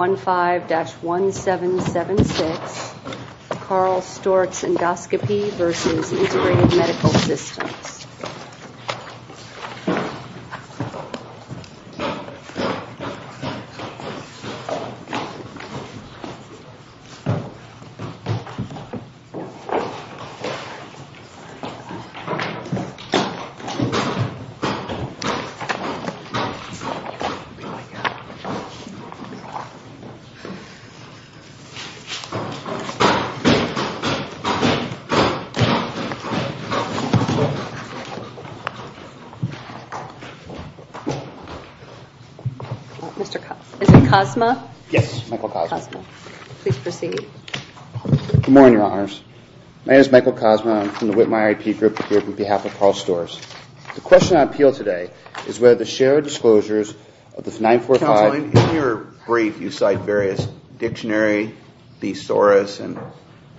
15-1776 Carl Storz Endoscopy-America v. Integrated Medical Systems Michael Kozma Good morning, Your Honors. My name is Michael Kozma. I'm from the Whitmer IAP group here on behalf of Carl Storz. The question I appeal today is whether the shared disclosures of 945— In your brief, you cite various dictionary, thesaurus, and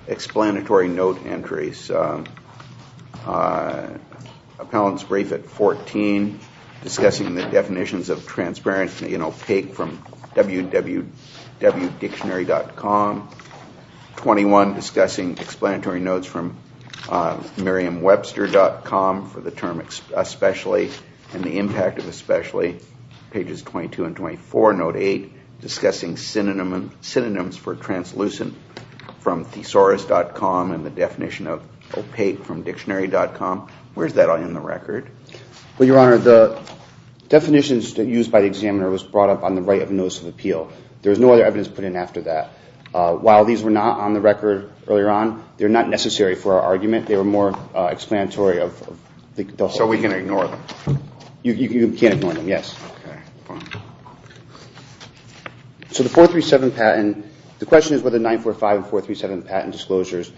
explanatory note entries. Appellant's brief at 14, discussing the definitions of transparent and opaque from wwwdictionary.com. 21, discussing explanatory notes from merriam-webster.com for the term especially and the impact of especially. Pages 22 and 24, note 8, discussing synonyms for translucent from thesaurus.com and the definition of opaque from dictionary.com. Where's that in the record? Well, Your Honor, the definitions used by the examiner was brought up on the right of notice of appeal. There was no other evidence put in after that. While these were not on the record earlier on, they're not necessary for our argument. They were more explanatory of the whole— So we can ignore them? You can't ignore them, yes. Okay, fine. So the 437 patent, the question is whether 945 and 437 patent disclosures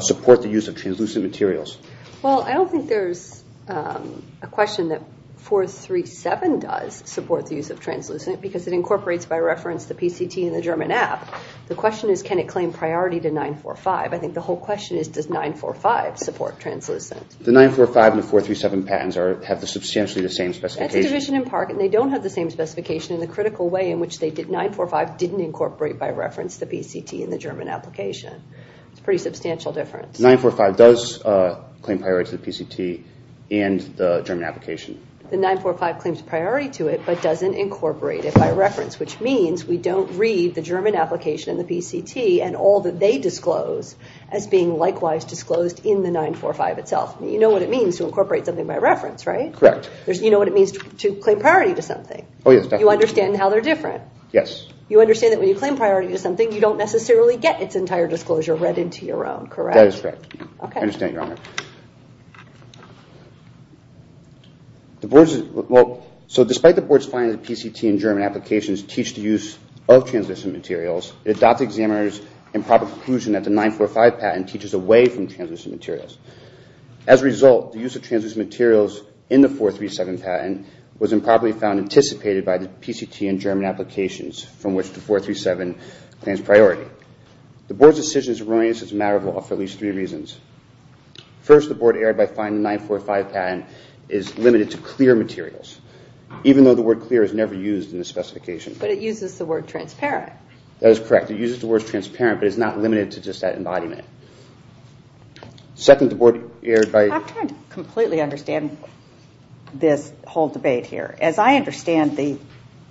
support the use of translucent materials. Well, I don't think there's a question that 437 does support the use of translucent because it incorporates, by reference, the PCT and the German app. The question is can it claim priority to 945? I think the whole question is does 945 support translucent? The 945 and the 437 patents have substantially the same specification. That's a division in part, and they don't have the same specification in the critical way in which they did. 945 didn't incorporate, by reference, the PCT and the German application. It's a pretty substantial difference. 945 does claim priority to the PCT and the German application. The 945 claims priority to it but doesn't incorporate it by reference, which means we don't read the German application and the PCT and all that they disclose as being likewise disclosed in the 945 itself. You know what it means to incorporate something by reference, right? Correct. You know what it means to claim priority to something. Oh, yes. You understand how they're different. Yes. You understand that when you claim priority to something, you don't necessarily get its entire disclosure read into your own, correct? That is correct. Okay. I understand, Your Honor. So despite the board's finding that PCT and German applications teach the use of translucent materials, it adopts the examiner's improper conclusion that the 945 patent teaches away from translucent materials. As a result, the use of translucent materials in the 437 patent was improperly found anticipated by the PCT and German applications, from which the 437 claims priority. The board's decision is erroneous as a matter of law for at least three reasons. First, the board erred by finding the 945 patent is limited to clear materials, even though the word clear is never used in the specification. But it uses the word transparent. That is correct. It uses the word transparent, but it's not limited to just that embodiment. Second, the board erred by... I'm trying to completely understand this whole debate here. As I understand the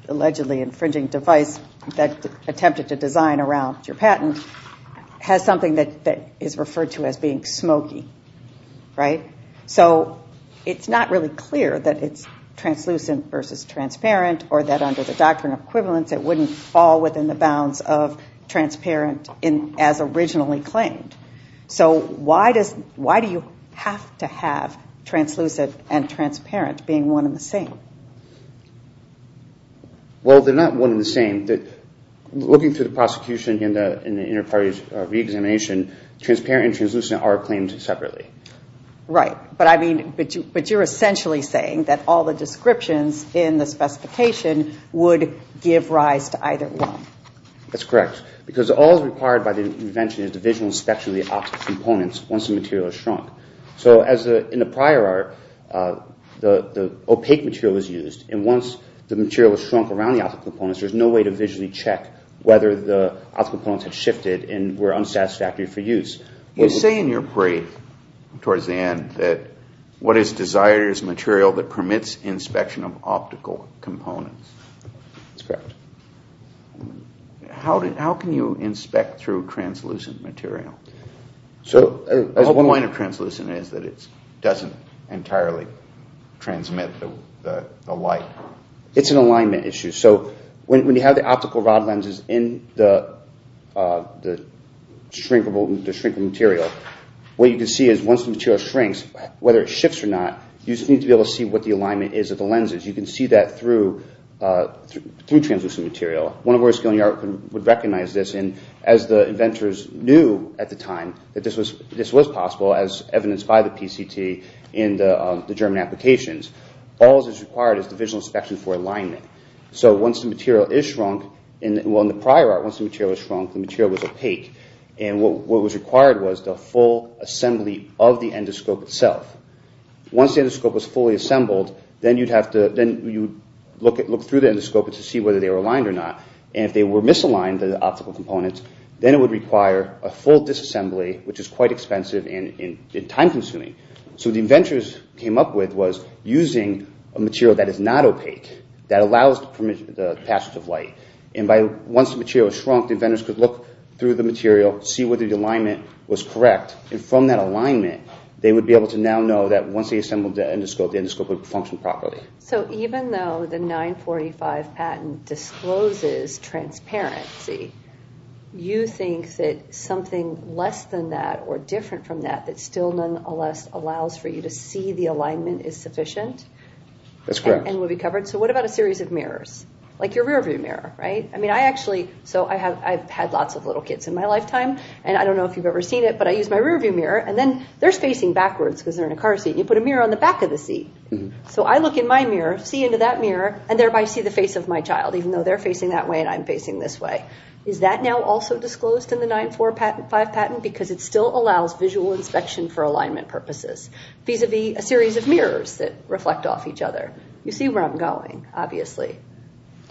allegedly infringing device that attempted to design around your patent has something that is referred to as being smoky, right? So it's not really clear that it's translucent versus transparent or that under the doctrine of equivalence, it wouldn't fall within the bounds of transparent as originally claimed. So why do you have to have translucent and transparent being one and the same? Well they're not one and the same. Looking through the prosecution and the inter-parties re-examination, transparent and translucent are claimed separately. Right. But I mean, but you're essentially saying that all the descriptions in the specification would give rise to either one. That's correct. Because all that's required by the invention is the visual inspection of the optical components once the material is shrunk. So as in the prior art, the opaque material was used and once the material was shrunk around the optical components, there's no way to visually check whether the optical components had shifted and were unsatisfactory for use. You say in your brief, towards the end, that what is desired is material that permits inspection of optical components. That's correct. How can you inspect through translucent material? So the whole point of translucent is that it doesn't entirely transmit the light. It's an alignment issue. So when you have the optical rod lenses in the shrinkable material, what you can see is once the material shrinks, whether it shifts or not, you just need to be able to see what the alignment is of the lenses. You can see that through translucent material. One of our skill in the art would recognize this and as the inventors knew at the time that this was possible as evidenced by the PCT in the German applications, all that's required is the visual inspection for alignment. So once the material is shrunk, well in the prior art, once the material was shrunk, the material was opaque and what was required was the full assembly of the endoscope itself. Once the endoscope was fully assembled, then you'd have to look through the endoscope to see whether they were aligned or not and if they were misaligned, the optical components, then it would require a full disassembly which is quite expensive and time consuming. So what the inventors came up with was using a material that is not opaque that allows the passage of light and once the material was shrunk, the inventors could look through the material, see whether the alignment was correct and from that alignment, they would be able to now know that once they assembled the endoscope, the endoscope would function properly. So even though the 945 patent discloses transparency, you think that something less than that or less than that allows for you to see the alignment is sufficient? That's correct. And will be covered. So what about a series of mirrors? Like your rearview mirror, right? I mean, I actually, so I've had lots of little kids in my lifetime and I don't know if you've ever seen it, but I use my rearview mirror and then they're facing backwards because they're in a car seat and you put a mirror on the back of the seat. So I look in my mirror, see into that mirror and thereby see the face of my child even though they're facing that way and I'm facing this way. Is that now also disclosed in the 945 patent because it still allows visual inspection for alignment purposes vis-a-vis a series of mirrors that reflect off each other? You see where I'm going, obviously.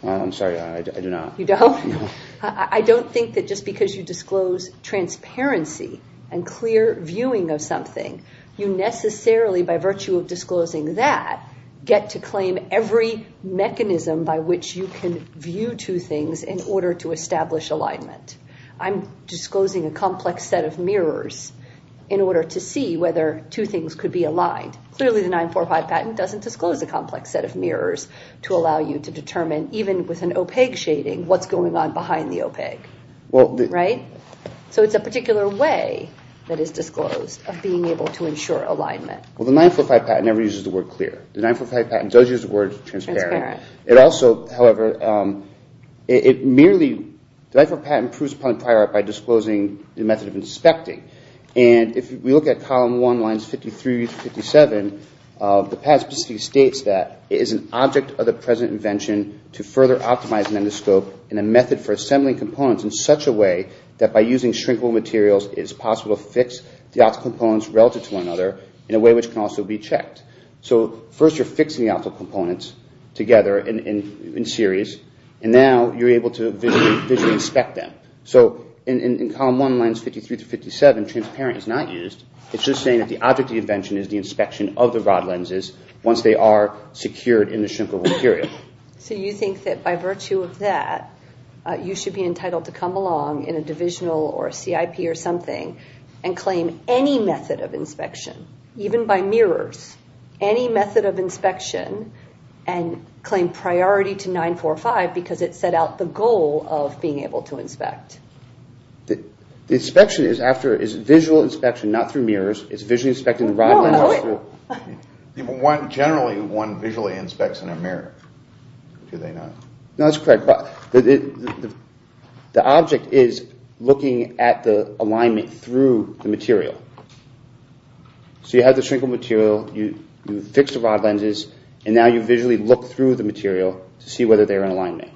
I'm sorry. I do not. You don't? No. I don't think that just because you disclose transparency and clear viewing of something, you necessarily, by virtue of disclosing that, get to claim every mechanism by which you can view two things in order to establish alignment. I'm disclosing a complex set of mirrors in order to see whether two things could be aligned. Clearly the 945 patent doesn't disclose a complex set of mirrors to allow you to determine, even with an opaque shading, what's going on behind the opaque, right? So it's a particular way that is disclosed of being able to ensure alignment. Well, the 945 patent never uses the word clear. The 945 patent does use the word transparent. It also, however, it merely, the 945 patent improves upon the prior art by disclosing the method of inspecting. And if we look at Column 1, Lines 53 through 57, the patent specifically states that it is an object of the present invention to further optimize an endoscope in a method for assembling components in such a way that by using shrinkable materials, it is possible to fix the optical components relative to one another in a way which can also be checked. So first you're fixing the optical components together in series, and now you're able to visually inspect them. So in Column 1, Lines 53 through 57, transparent is not used. It's just saying that the object of the invention is the inspection of the rod lenses once they are secured in the shrinkable material. So you think that by virtue of that, you should be entitled to come along in a divisional or a CIP or something and claim any method of inspection, even by mirrors. Any method of inspection and claim priority to 945 because it set out the goal of being able to inspect. The inspection is after, is visual inspection, not through mirrors, is visually inspecting the rod lenses through... Generally one visually inspects in a mirror, do they not? No, that's correct. The object is looking at the alignment through the material. So you have the shrinkable material, you fix the rod lenses, and now you visually look through the material to see whether they are in alignment.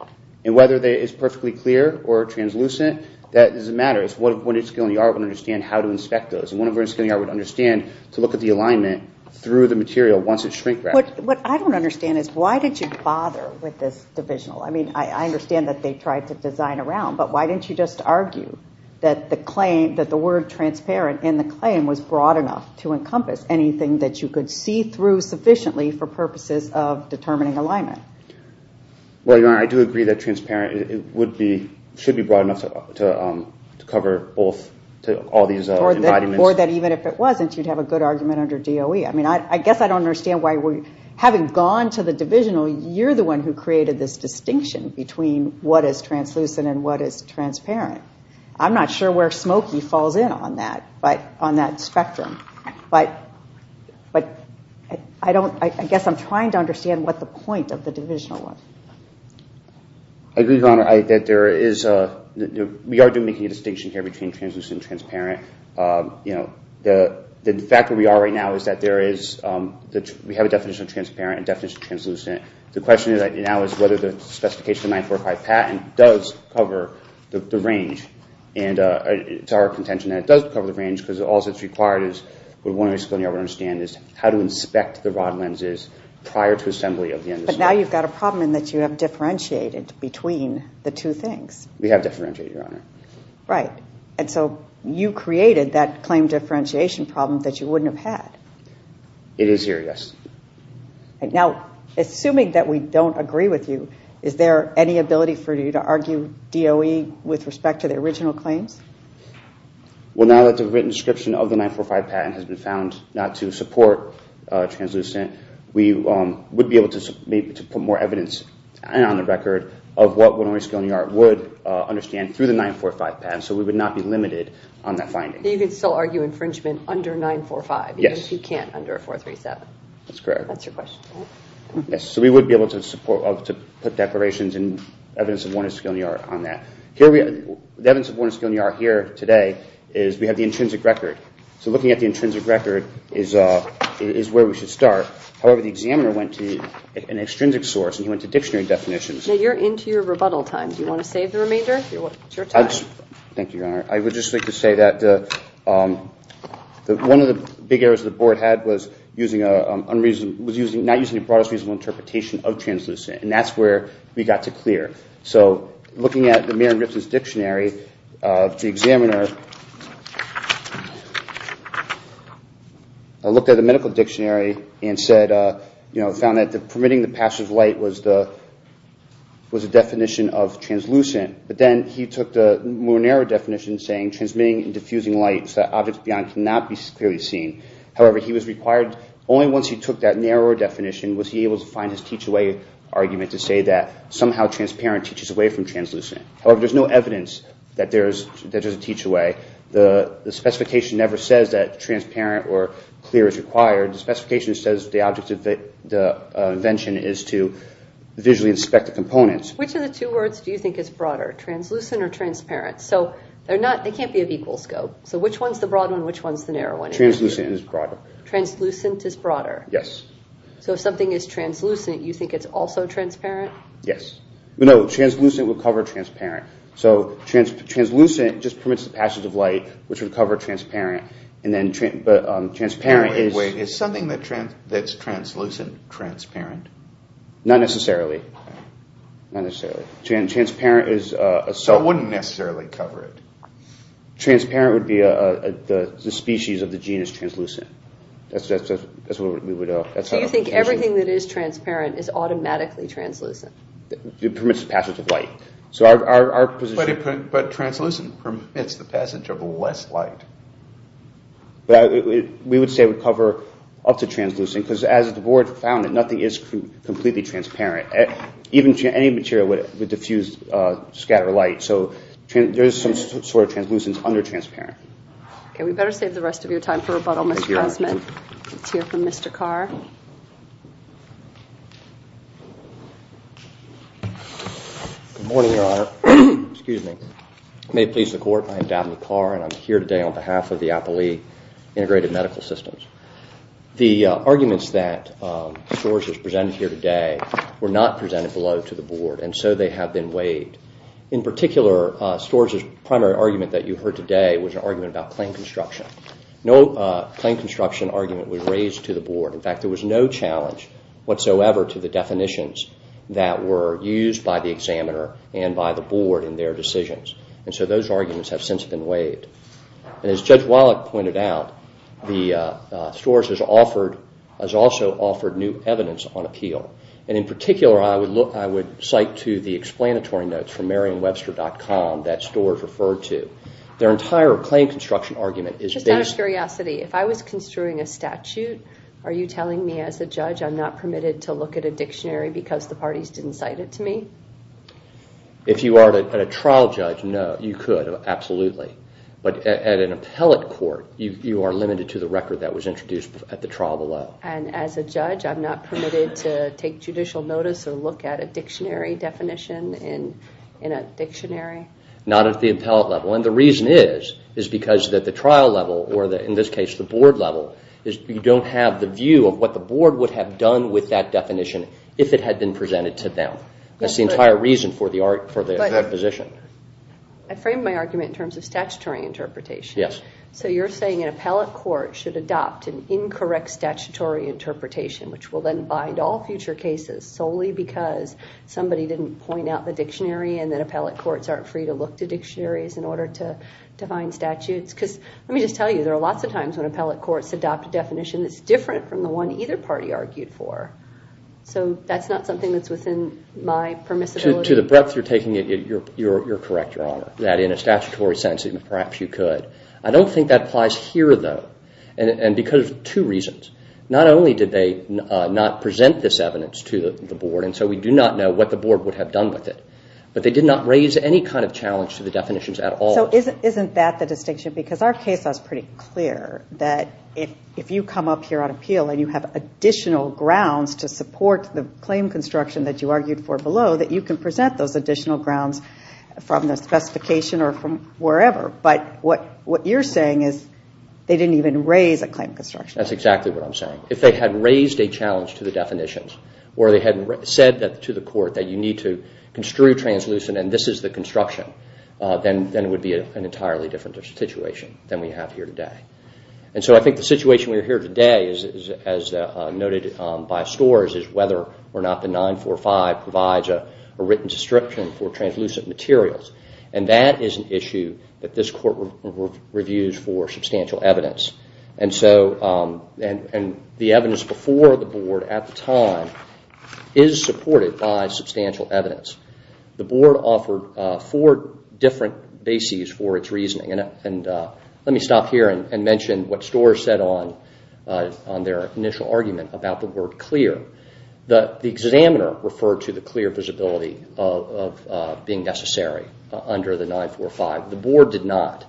And whether it is perfectly clear or translucent, that doesn't matter. It's when it's still in the art, we understand how to inspect those. And when it's still in the art, we understand to look at the alignment through the material once it's shrink-wrapped. What I don't understand is why did you bother with this divisional? I understand that they tried to design around, but why didn't you just argue that the word transparent in the claim was broad enough to encompass anything that you could see through sufficiently for purposes of determining alignment? Well, Your Honor, I do agree that transparent should be broad enough to cover all these embodiments. Or that even if it wasn't, you'd have a good argument under DOE. I guess I don't understand why, having gone to the divisional, you're the one who created this distinction between what is translucent and what is transparent. I'm not sure where Smoky falls in on that spectrum, but I guess I'm trying to understand what the point of the divisional was. I agree, Your Honor, that we are making a distinction here between translucent and transparent. The fact that we are right now is that we have a definition of transparent and a definition of translucent. The question now is whether the specification of 945 patent does cover the range. And it's our contention that it does cover the range, because all that's required is how to inspect the rod lenses prior to assembly of the end of the scope. But now you've got a problem in that you have differentiated between the two things. We have differentiated, Your Honor. Right. And so you created that claim differentiation problem that you wouldn't have had. It is here, yes. Now, assuming that we don't agree with you, is there any ability for you to argue DOE with respect to the original claims? Well, now that the written description of the 945 patent has been found not to support translucent, we would be able to put more evidence on the record of what Winnowing Skilling Yard would understand through the 945 patent. So we would not be limited on that finding. You can still argue infringement under 945, even if you can't under a 437? That's correct. That's your question, right? Yes. So we would be able to support, to put declarations and evidence of Winnowing Skilling Yard on that. The evidence of Winnowing Skilling Yard here today is we have the intrinsic record. So looking at the intrinsic record is where we should start. However, the examiner went to an extrinsic source and he went to dictionary definitions. Now, you're into your rebuttal time. Do you want to save the remainder? It's your time. Thank you, Your Honor. I would just like to say that one of the big errors the board had was not using the broadest reasonable interpretation of translucent, and that's where we got to clear. So looking at the Marin-Ripson's dictionary, the examiner looked at the medical dictionary and found that permitting the passage of light was the definition of translucent, but then he took the more narrow definition saying transmitting and diffusing light so that objects beyond cannot be clearly seen. However, he was required, only once he took that narrower definition was he able to find his teach-away argument to say that somehow transparent teaches away from translucent. However, there's no evidence that there's a teach-away. The specification never says that transparent or clear is required. The specification says the object of the invention is to visually inspect the components. Which of the two words do you think is broader, translucent or transparent? So they can't be of equal scope. So which one's the broad one and which one's the narrow one? Translucent is broader. Translucent is broader? Yes. So if something is translucent, you think it's also transparent? Yes. No, translucent would cover transparent. So translucent just permits the passage of light, which would cover transparent, and Wait, wait, is something that's translucent transparent? Not necessarily. Okay. Not necessarily. Transparent is a... So it wouldn't necessarily cover it? Transparent would be the species of the genus translucent. That's what we would... So you think everything that is transparent is automatically translucent? It permits the passage of light. So our position... But translucent permits the passage of less light. We would say it would cover up to translucent, because as the board found it, nothing is completely transparent. Even any material would diffuse, scatter light. So there is some sort of translucence under transparent. Okay. We better save the rest of your time for rebuttal, Mr. Cosman. Let's hear from Mr. Carr. Good morning, Your Honor. Excuse me. May it please the court, I am Dabney Carr, and I'm here today on behalf of the Appellee Integrated Medical Systems. The arguments that Storrs has presented here today were not presented below to the board, and so they have been waived. In particular, Storrs' primary argument that you heard today was an argument about claim construction. No claim construction argument was raised to the board. In fact, there was no challenge whatsoever to the definitions that were used by the examiner and by the board in their decisions. And so those arguments have since been waived. And as Judge Wallach pointed out, Storrs has also offered new evidence on appeal. And in particular, I would cite to the explanatory notes from Merriam-Webster.com that Storrs referred to. Their entire claim construction argument is based... Just out of curiosity, if I was construing a statute, are you telling me as a judge I'm not permitted to look at a dictionary because the parties didn't cite it to me? If you are a trial judge, no, you could. Absolutely. But at an appellate court, you are limited to the record that was introduced at the trial below. And as a judge, I'm not permitted to take judicial notice or look at a dictionary definition in a dictionary? Not at the appellate level. And the reason is, is because at the trial level, or in this case, the board level, you don't have the view of what the board would have done with that definition if it had been presented to them. That's the entire reason for the position. I frame my argument in terms of statutory interpretation. Yes. So you're saying an appellate court should adopt an incorrect statutory interpretation, which will then bind all future cases solely because somebody didn't point out the dictionary and that appellate courts aren't free to look to dictionaries in order to find statutes? Because let me just tell you, there are lots of times when appellate courts adopt a definition that's different from the one either party argued for. So that's not something that's within my permissibility? To the breadth you're taking it, you're correct, Your Honor. That in a statutory sense, perhaps you could. I don't think that applies here, though. And because of two reasons. Not only did they not present this evidence to the board, and so we do not know what the board would have done with it. But they did not raise any kind of challenge to the definitions at all. So isn't that the distinction? Because our case law is pretty clear that if you come up here on appeal and you have additional grounds to support the claim construction that you argued for below, that you can present those additional grounds from the specification or from wherever. But what you're saying is they didn't even raise a claim construction. That's exactly what I'm saying. If they had raised a challenge to the definitions, or they had said to the court that you need to construe translucent and this is the construction, then it would be an entirely different situation than we have here today. And so I think the situation we have here today, as noted by scores, is whether or not the 945 provides a written description for translucent materials. And that is an issue that this court reviews for substantial evidence. And so the evidence before the board at the time is supported by substantial evidence. The board offered four different bases for its reasoning. Let me stop here and mention what scores said on their initial argument about the word clear. The examiner referred to the clear visibility of being necessary under the 945. The board did not.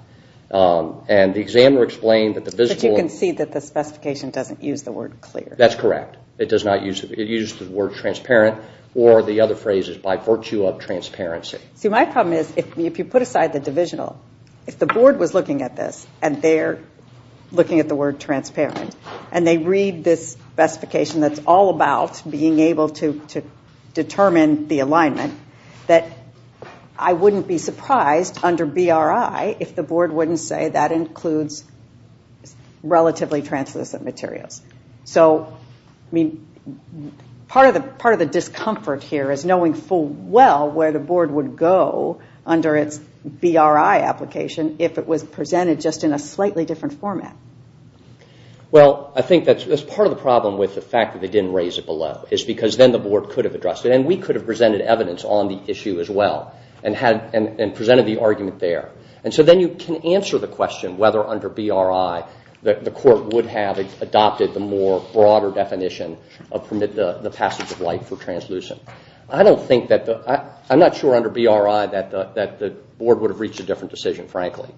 And the examiner explained that the visible... But you can see that the specification doesn't use the word clear. That's correct. It uses the word transparent or the other phrase is by virtue of transparency. See, my problem is if you put aside the divisional, if the board was looking at this, and they're looking at the word transparent, and they read this specification that's all about being able to determine the alignment, that I wouldn't be surprised under BRI if the board wouldn't say that includes relatively translucent materials. So, I mean, part of the discomfort here is knowing full well where the board would go under its BRI application if it was presented just in a slightly different format. Well, I think that's part of the problem with the fact that they didn't raise it below. It's because then the board could have addressed it. And we could have presented evidence on the issue as well and presented the argument there. And so then you can answer the question whether under BRI the court would have adopted the more broader definition of permit the passage of light for translucent. I don't think that... I'm not sure under BRI that the board would have reached a different decision, frankly.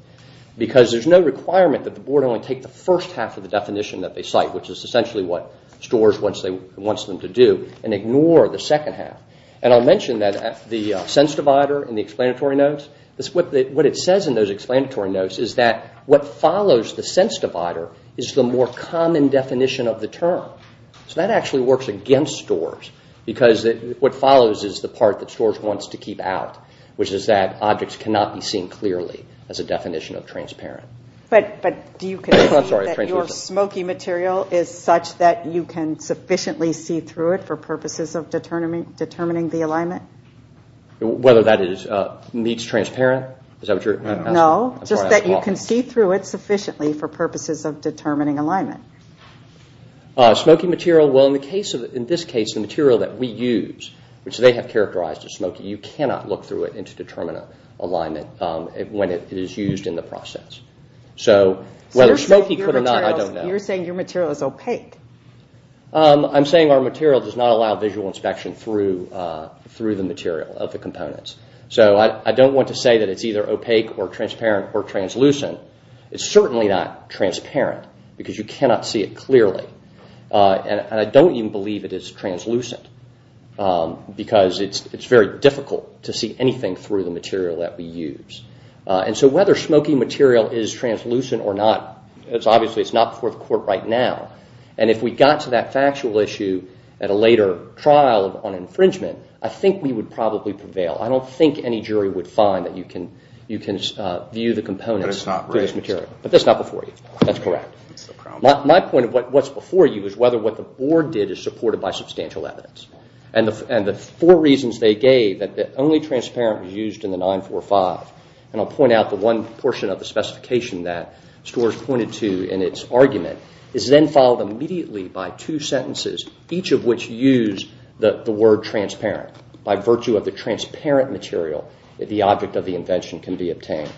Because there's no requirement that the board only take the first half of the definition that they cite, which is essentially what STORS wants them to do, and ignore the second half. And I'll mention that the sense divider in the explanatory notes, what it says in those explanatory notes is that what follows the sense divider is the more common definition of the term. So that actually works against STORS. Because what follows is the part that STORS wants to keep out, which is that objects cannot be seen clearly as a definition of transparent. But do you consider that your smoky material is such that you can sufficiently see through it for purposes of determining the alignment? Whether that meets transparent? Is that what you're asking? No, just that you can see through it sufficiently for purposes of determining alignment. Smoky material, well in this case the material that we use, which they have characterized as smoky, you cannot look through it to determine alignment when it is used in the process. So whether smoky could or not, I don't know. You're saying your material is opaque. I'm saying our material does not allow visual inspection through the material of the components. So I don't want to say that it's either opaque or transparent or translucent. It's certainly not transparent because you cannot see it clearly. And I don't even believe it is translucent. Because it's very difficult to see anything through the material that we use. And so whether smoky material is translucent or not, obviously it's not before the court right now. And if we got to that factual issue at a later trial on infringement, I think we would probably prevail. I don't think any jury would find that you can view the components through this material. But it's not raised. But that's not before you. That's correct. My point of what's before you is whether what the board did is supported by substantial evidence. And the four reasons they gave that only transparent was used in the 945, and I'll point out the one portion of the specification that Storrs pointed to in its argument, is then followed immediately by two sentences, each of which use the word transparent. By virtue of the transparent material, the object of the invention can be obtained.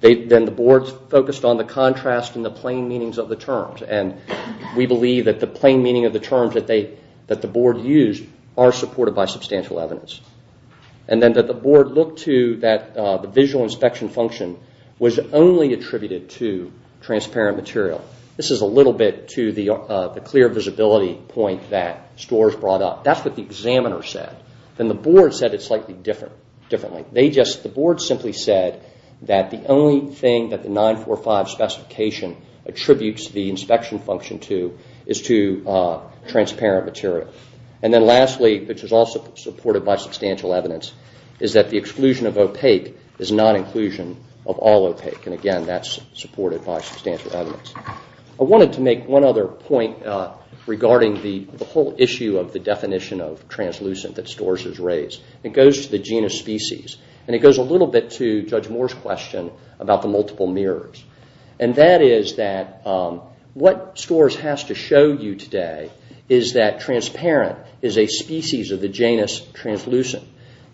Then the board focused on the contrast and the plain meanings of the terms. And we believe that the plain meaning of the terms that the board used are supported by substantial evidence. And then that the board looked to that the visual inspection function was only attributed to transparent material. This is a little bit to the clear visibility point that Storrs brought up. That's what the examiner said. Then the board said it slightly differently. The board simply said that the only thing that the 945 specification attributes the inspection function to is to transparent material. And then lastly, which is also supported by substantial evidence, is that the exclusion of opaque is not inclusion of all opaque. And again, that's supported by substantial evidence. I wanted to make one other point regarding the whole issue of the definition of translucent that Storrs has raised. It goes to the genus species. And it goes a little bit to Judge Moore's question about the multiple mirrors. And that is that what Storrs has to show you today is that transparent is a species of the genus translucent.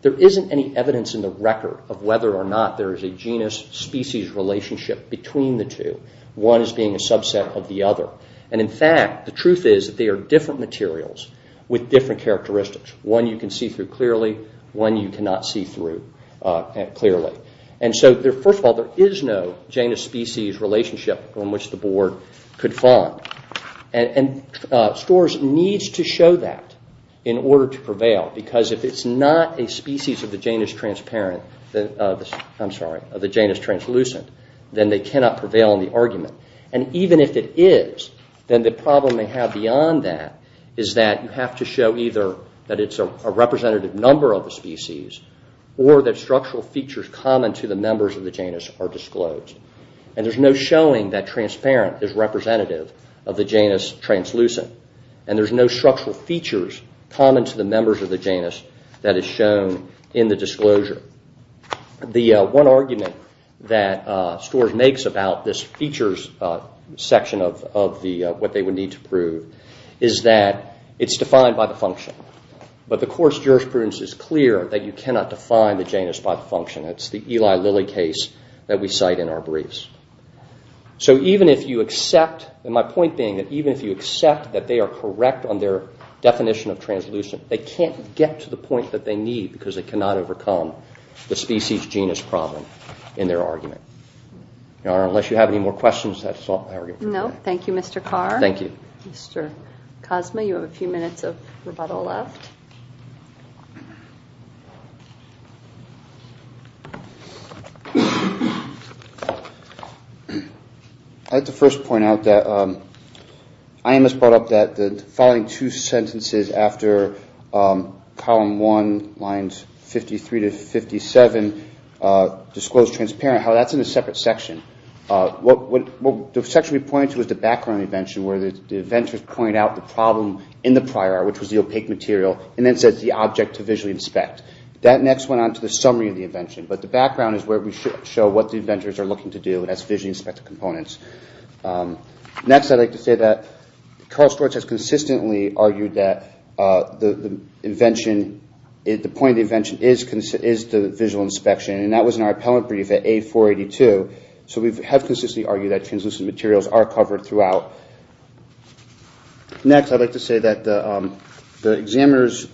There isn't any evidence in the record of whether or not there is a genus species relationship between the two. One as being a subset of the other. And in fact, the truth is that they are different materials with different characteristics. One you can see through clearly, one you cannot see through clearly. And so, first of all, there is no genus species relationship on which the board could find. And Storrs needs to show that in order to prevail. Because if it's not a species of the genus transparent, I'm sorry, of the genus translucent, then they cannot prevail in the argument. And even if it is, then the problem they have beyond that is that you have to show either that it's a representative number of the species or that structural features common to the members of the genus are disclosed. And there's no showing that transparent is representative of the genus translucent. And there's no structural features common to the members of the genus that is shown in the disclosure. The one argument that Storrs makes about this features section of what they would need to prove is that it's defined by the function. But the course jurisprudence is clear that you cannot define the genus by the function. It's the Eli Lilly case that we cite in our briefs. So even if you accept, and my point being that even if you accept that they are correct on their definition of translucent, they can't get to the point that they need because they cannot overcome the species genus problem in their argument. Unless you have any more questions, that's all. No, thank you, Mr. Carr. Thank you. Mr. Cosma, you have a few minutes of rebuttal left. I'd like to first point out that IMS brought up that the following two sentences after column one, lines 53 to 57, disclosed transparent. However, that's in a separate section. What the section we pointed to was the background invention where the inventors pointed out the problem in the prior, And then they brought it up in a separate section, That next went on to the summary of the invention, but the background is where we show what the inventors are looking to do and that's visually inspected components. Next, I'd like to say that Carl Storch has consistently argued that the point of the invention is the visual inspection, and that was in our appellate brief at A482. So we have consistently argued that translucent materials are covered throughout. Next, I'd like to say that the examiner's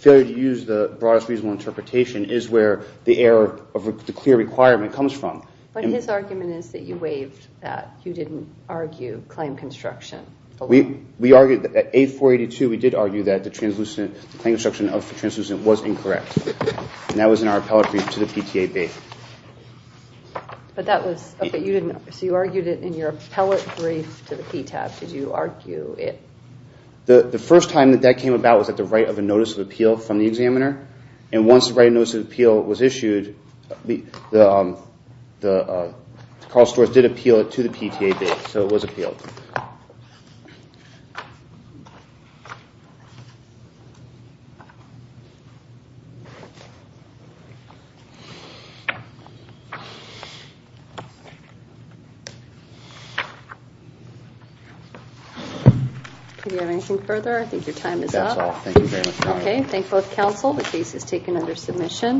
failure to use the broadest reasonable interpretation is where the error of the clear requirement comes from. But his argument is that you waived that. You didn't argue claim construction. We argued that at A482, we did argue that the claim construction of the translucent was incorrect. And that was in our appellate brief to the PTA base. So you argued it in your appellate brief to the PTA. Did you argue it? The first time that that came about was at the write of a notice of appeal from the examiner. And once the write of notice of appeal was issued, Carl Storch did appeal it to the PTA base. So it was appealed. Do we have anything further? I think your time is up. Okay. Thank you both counsel. The case is taken under submission.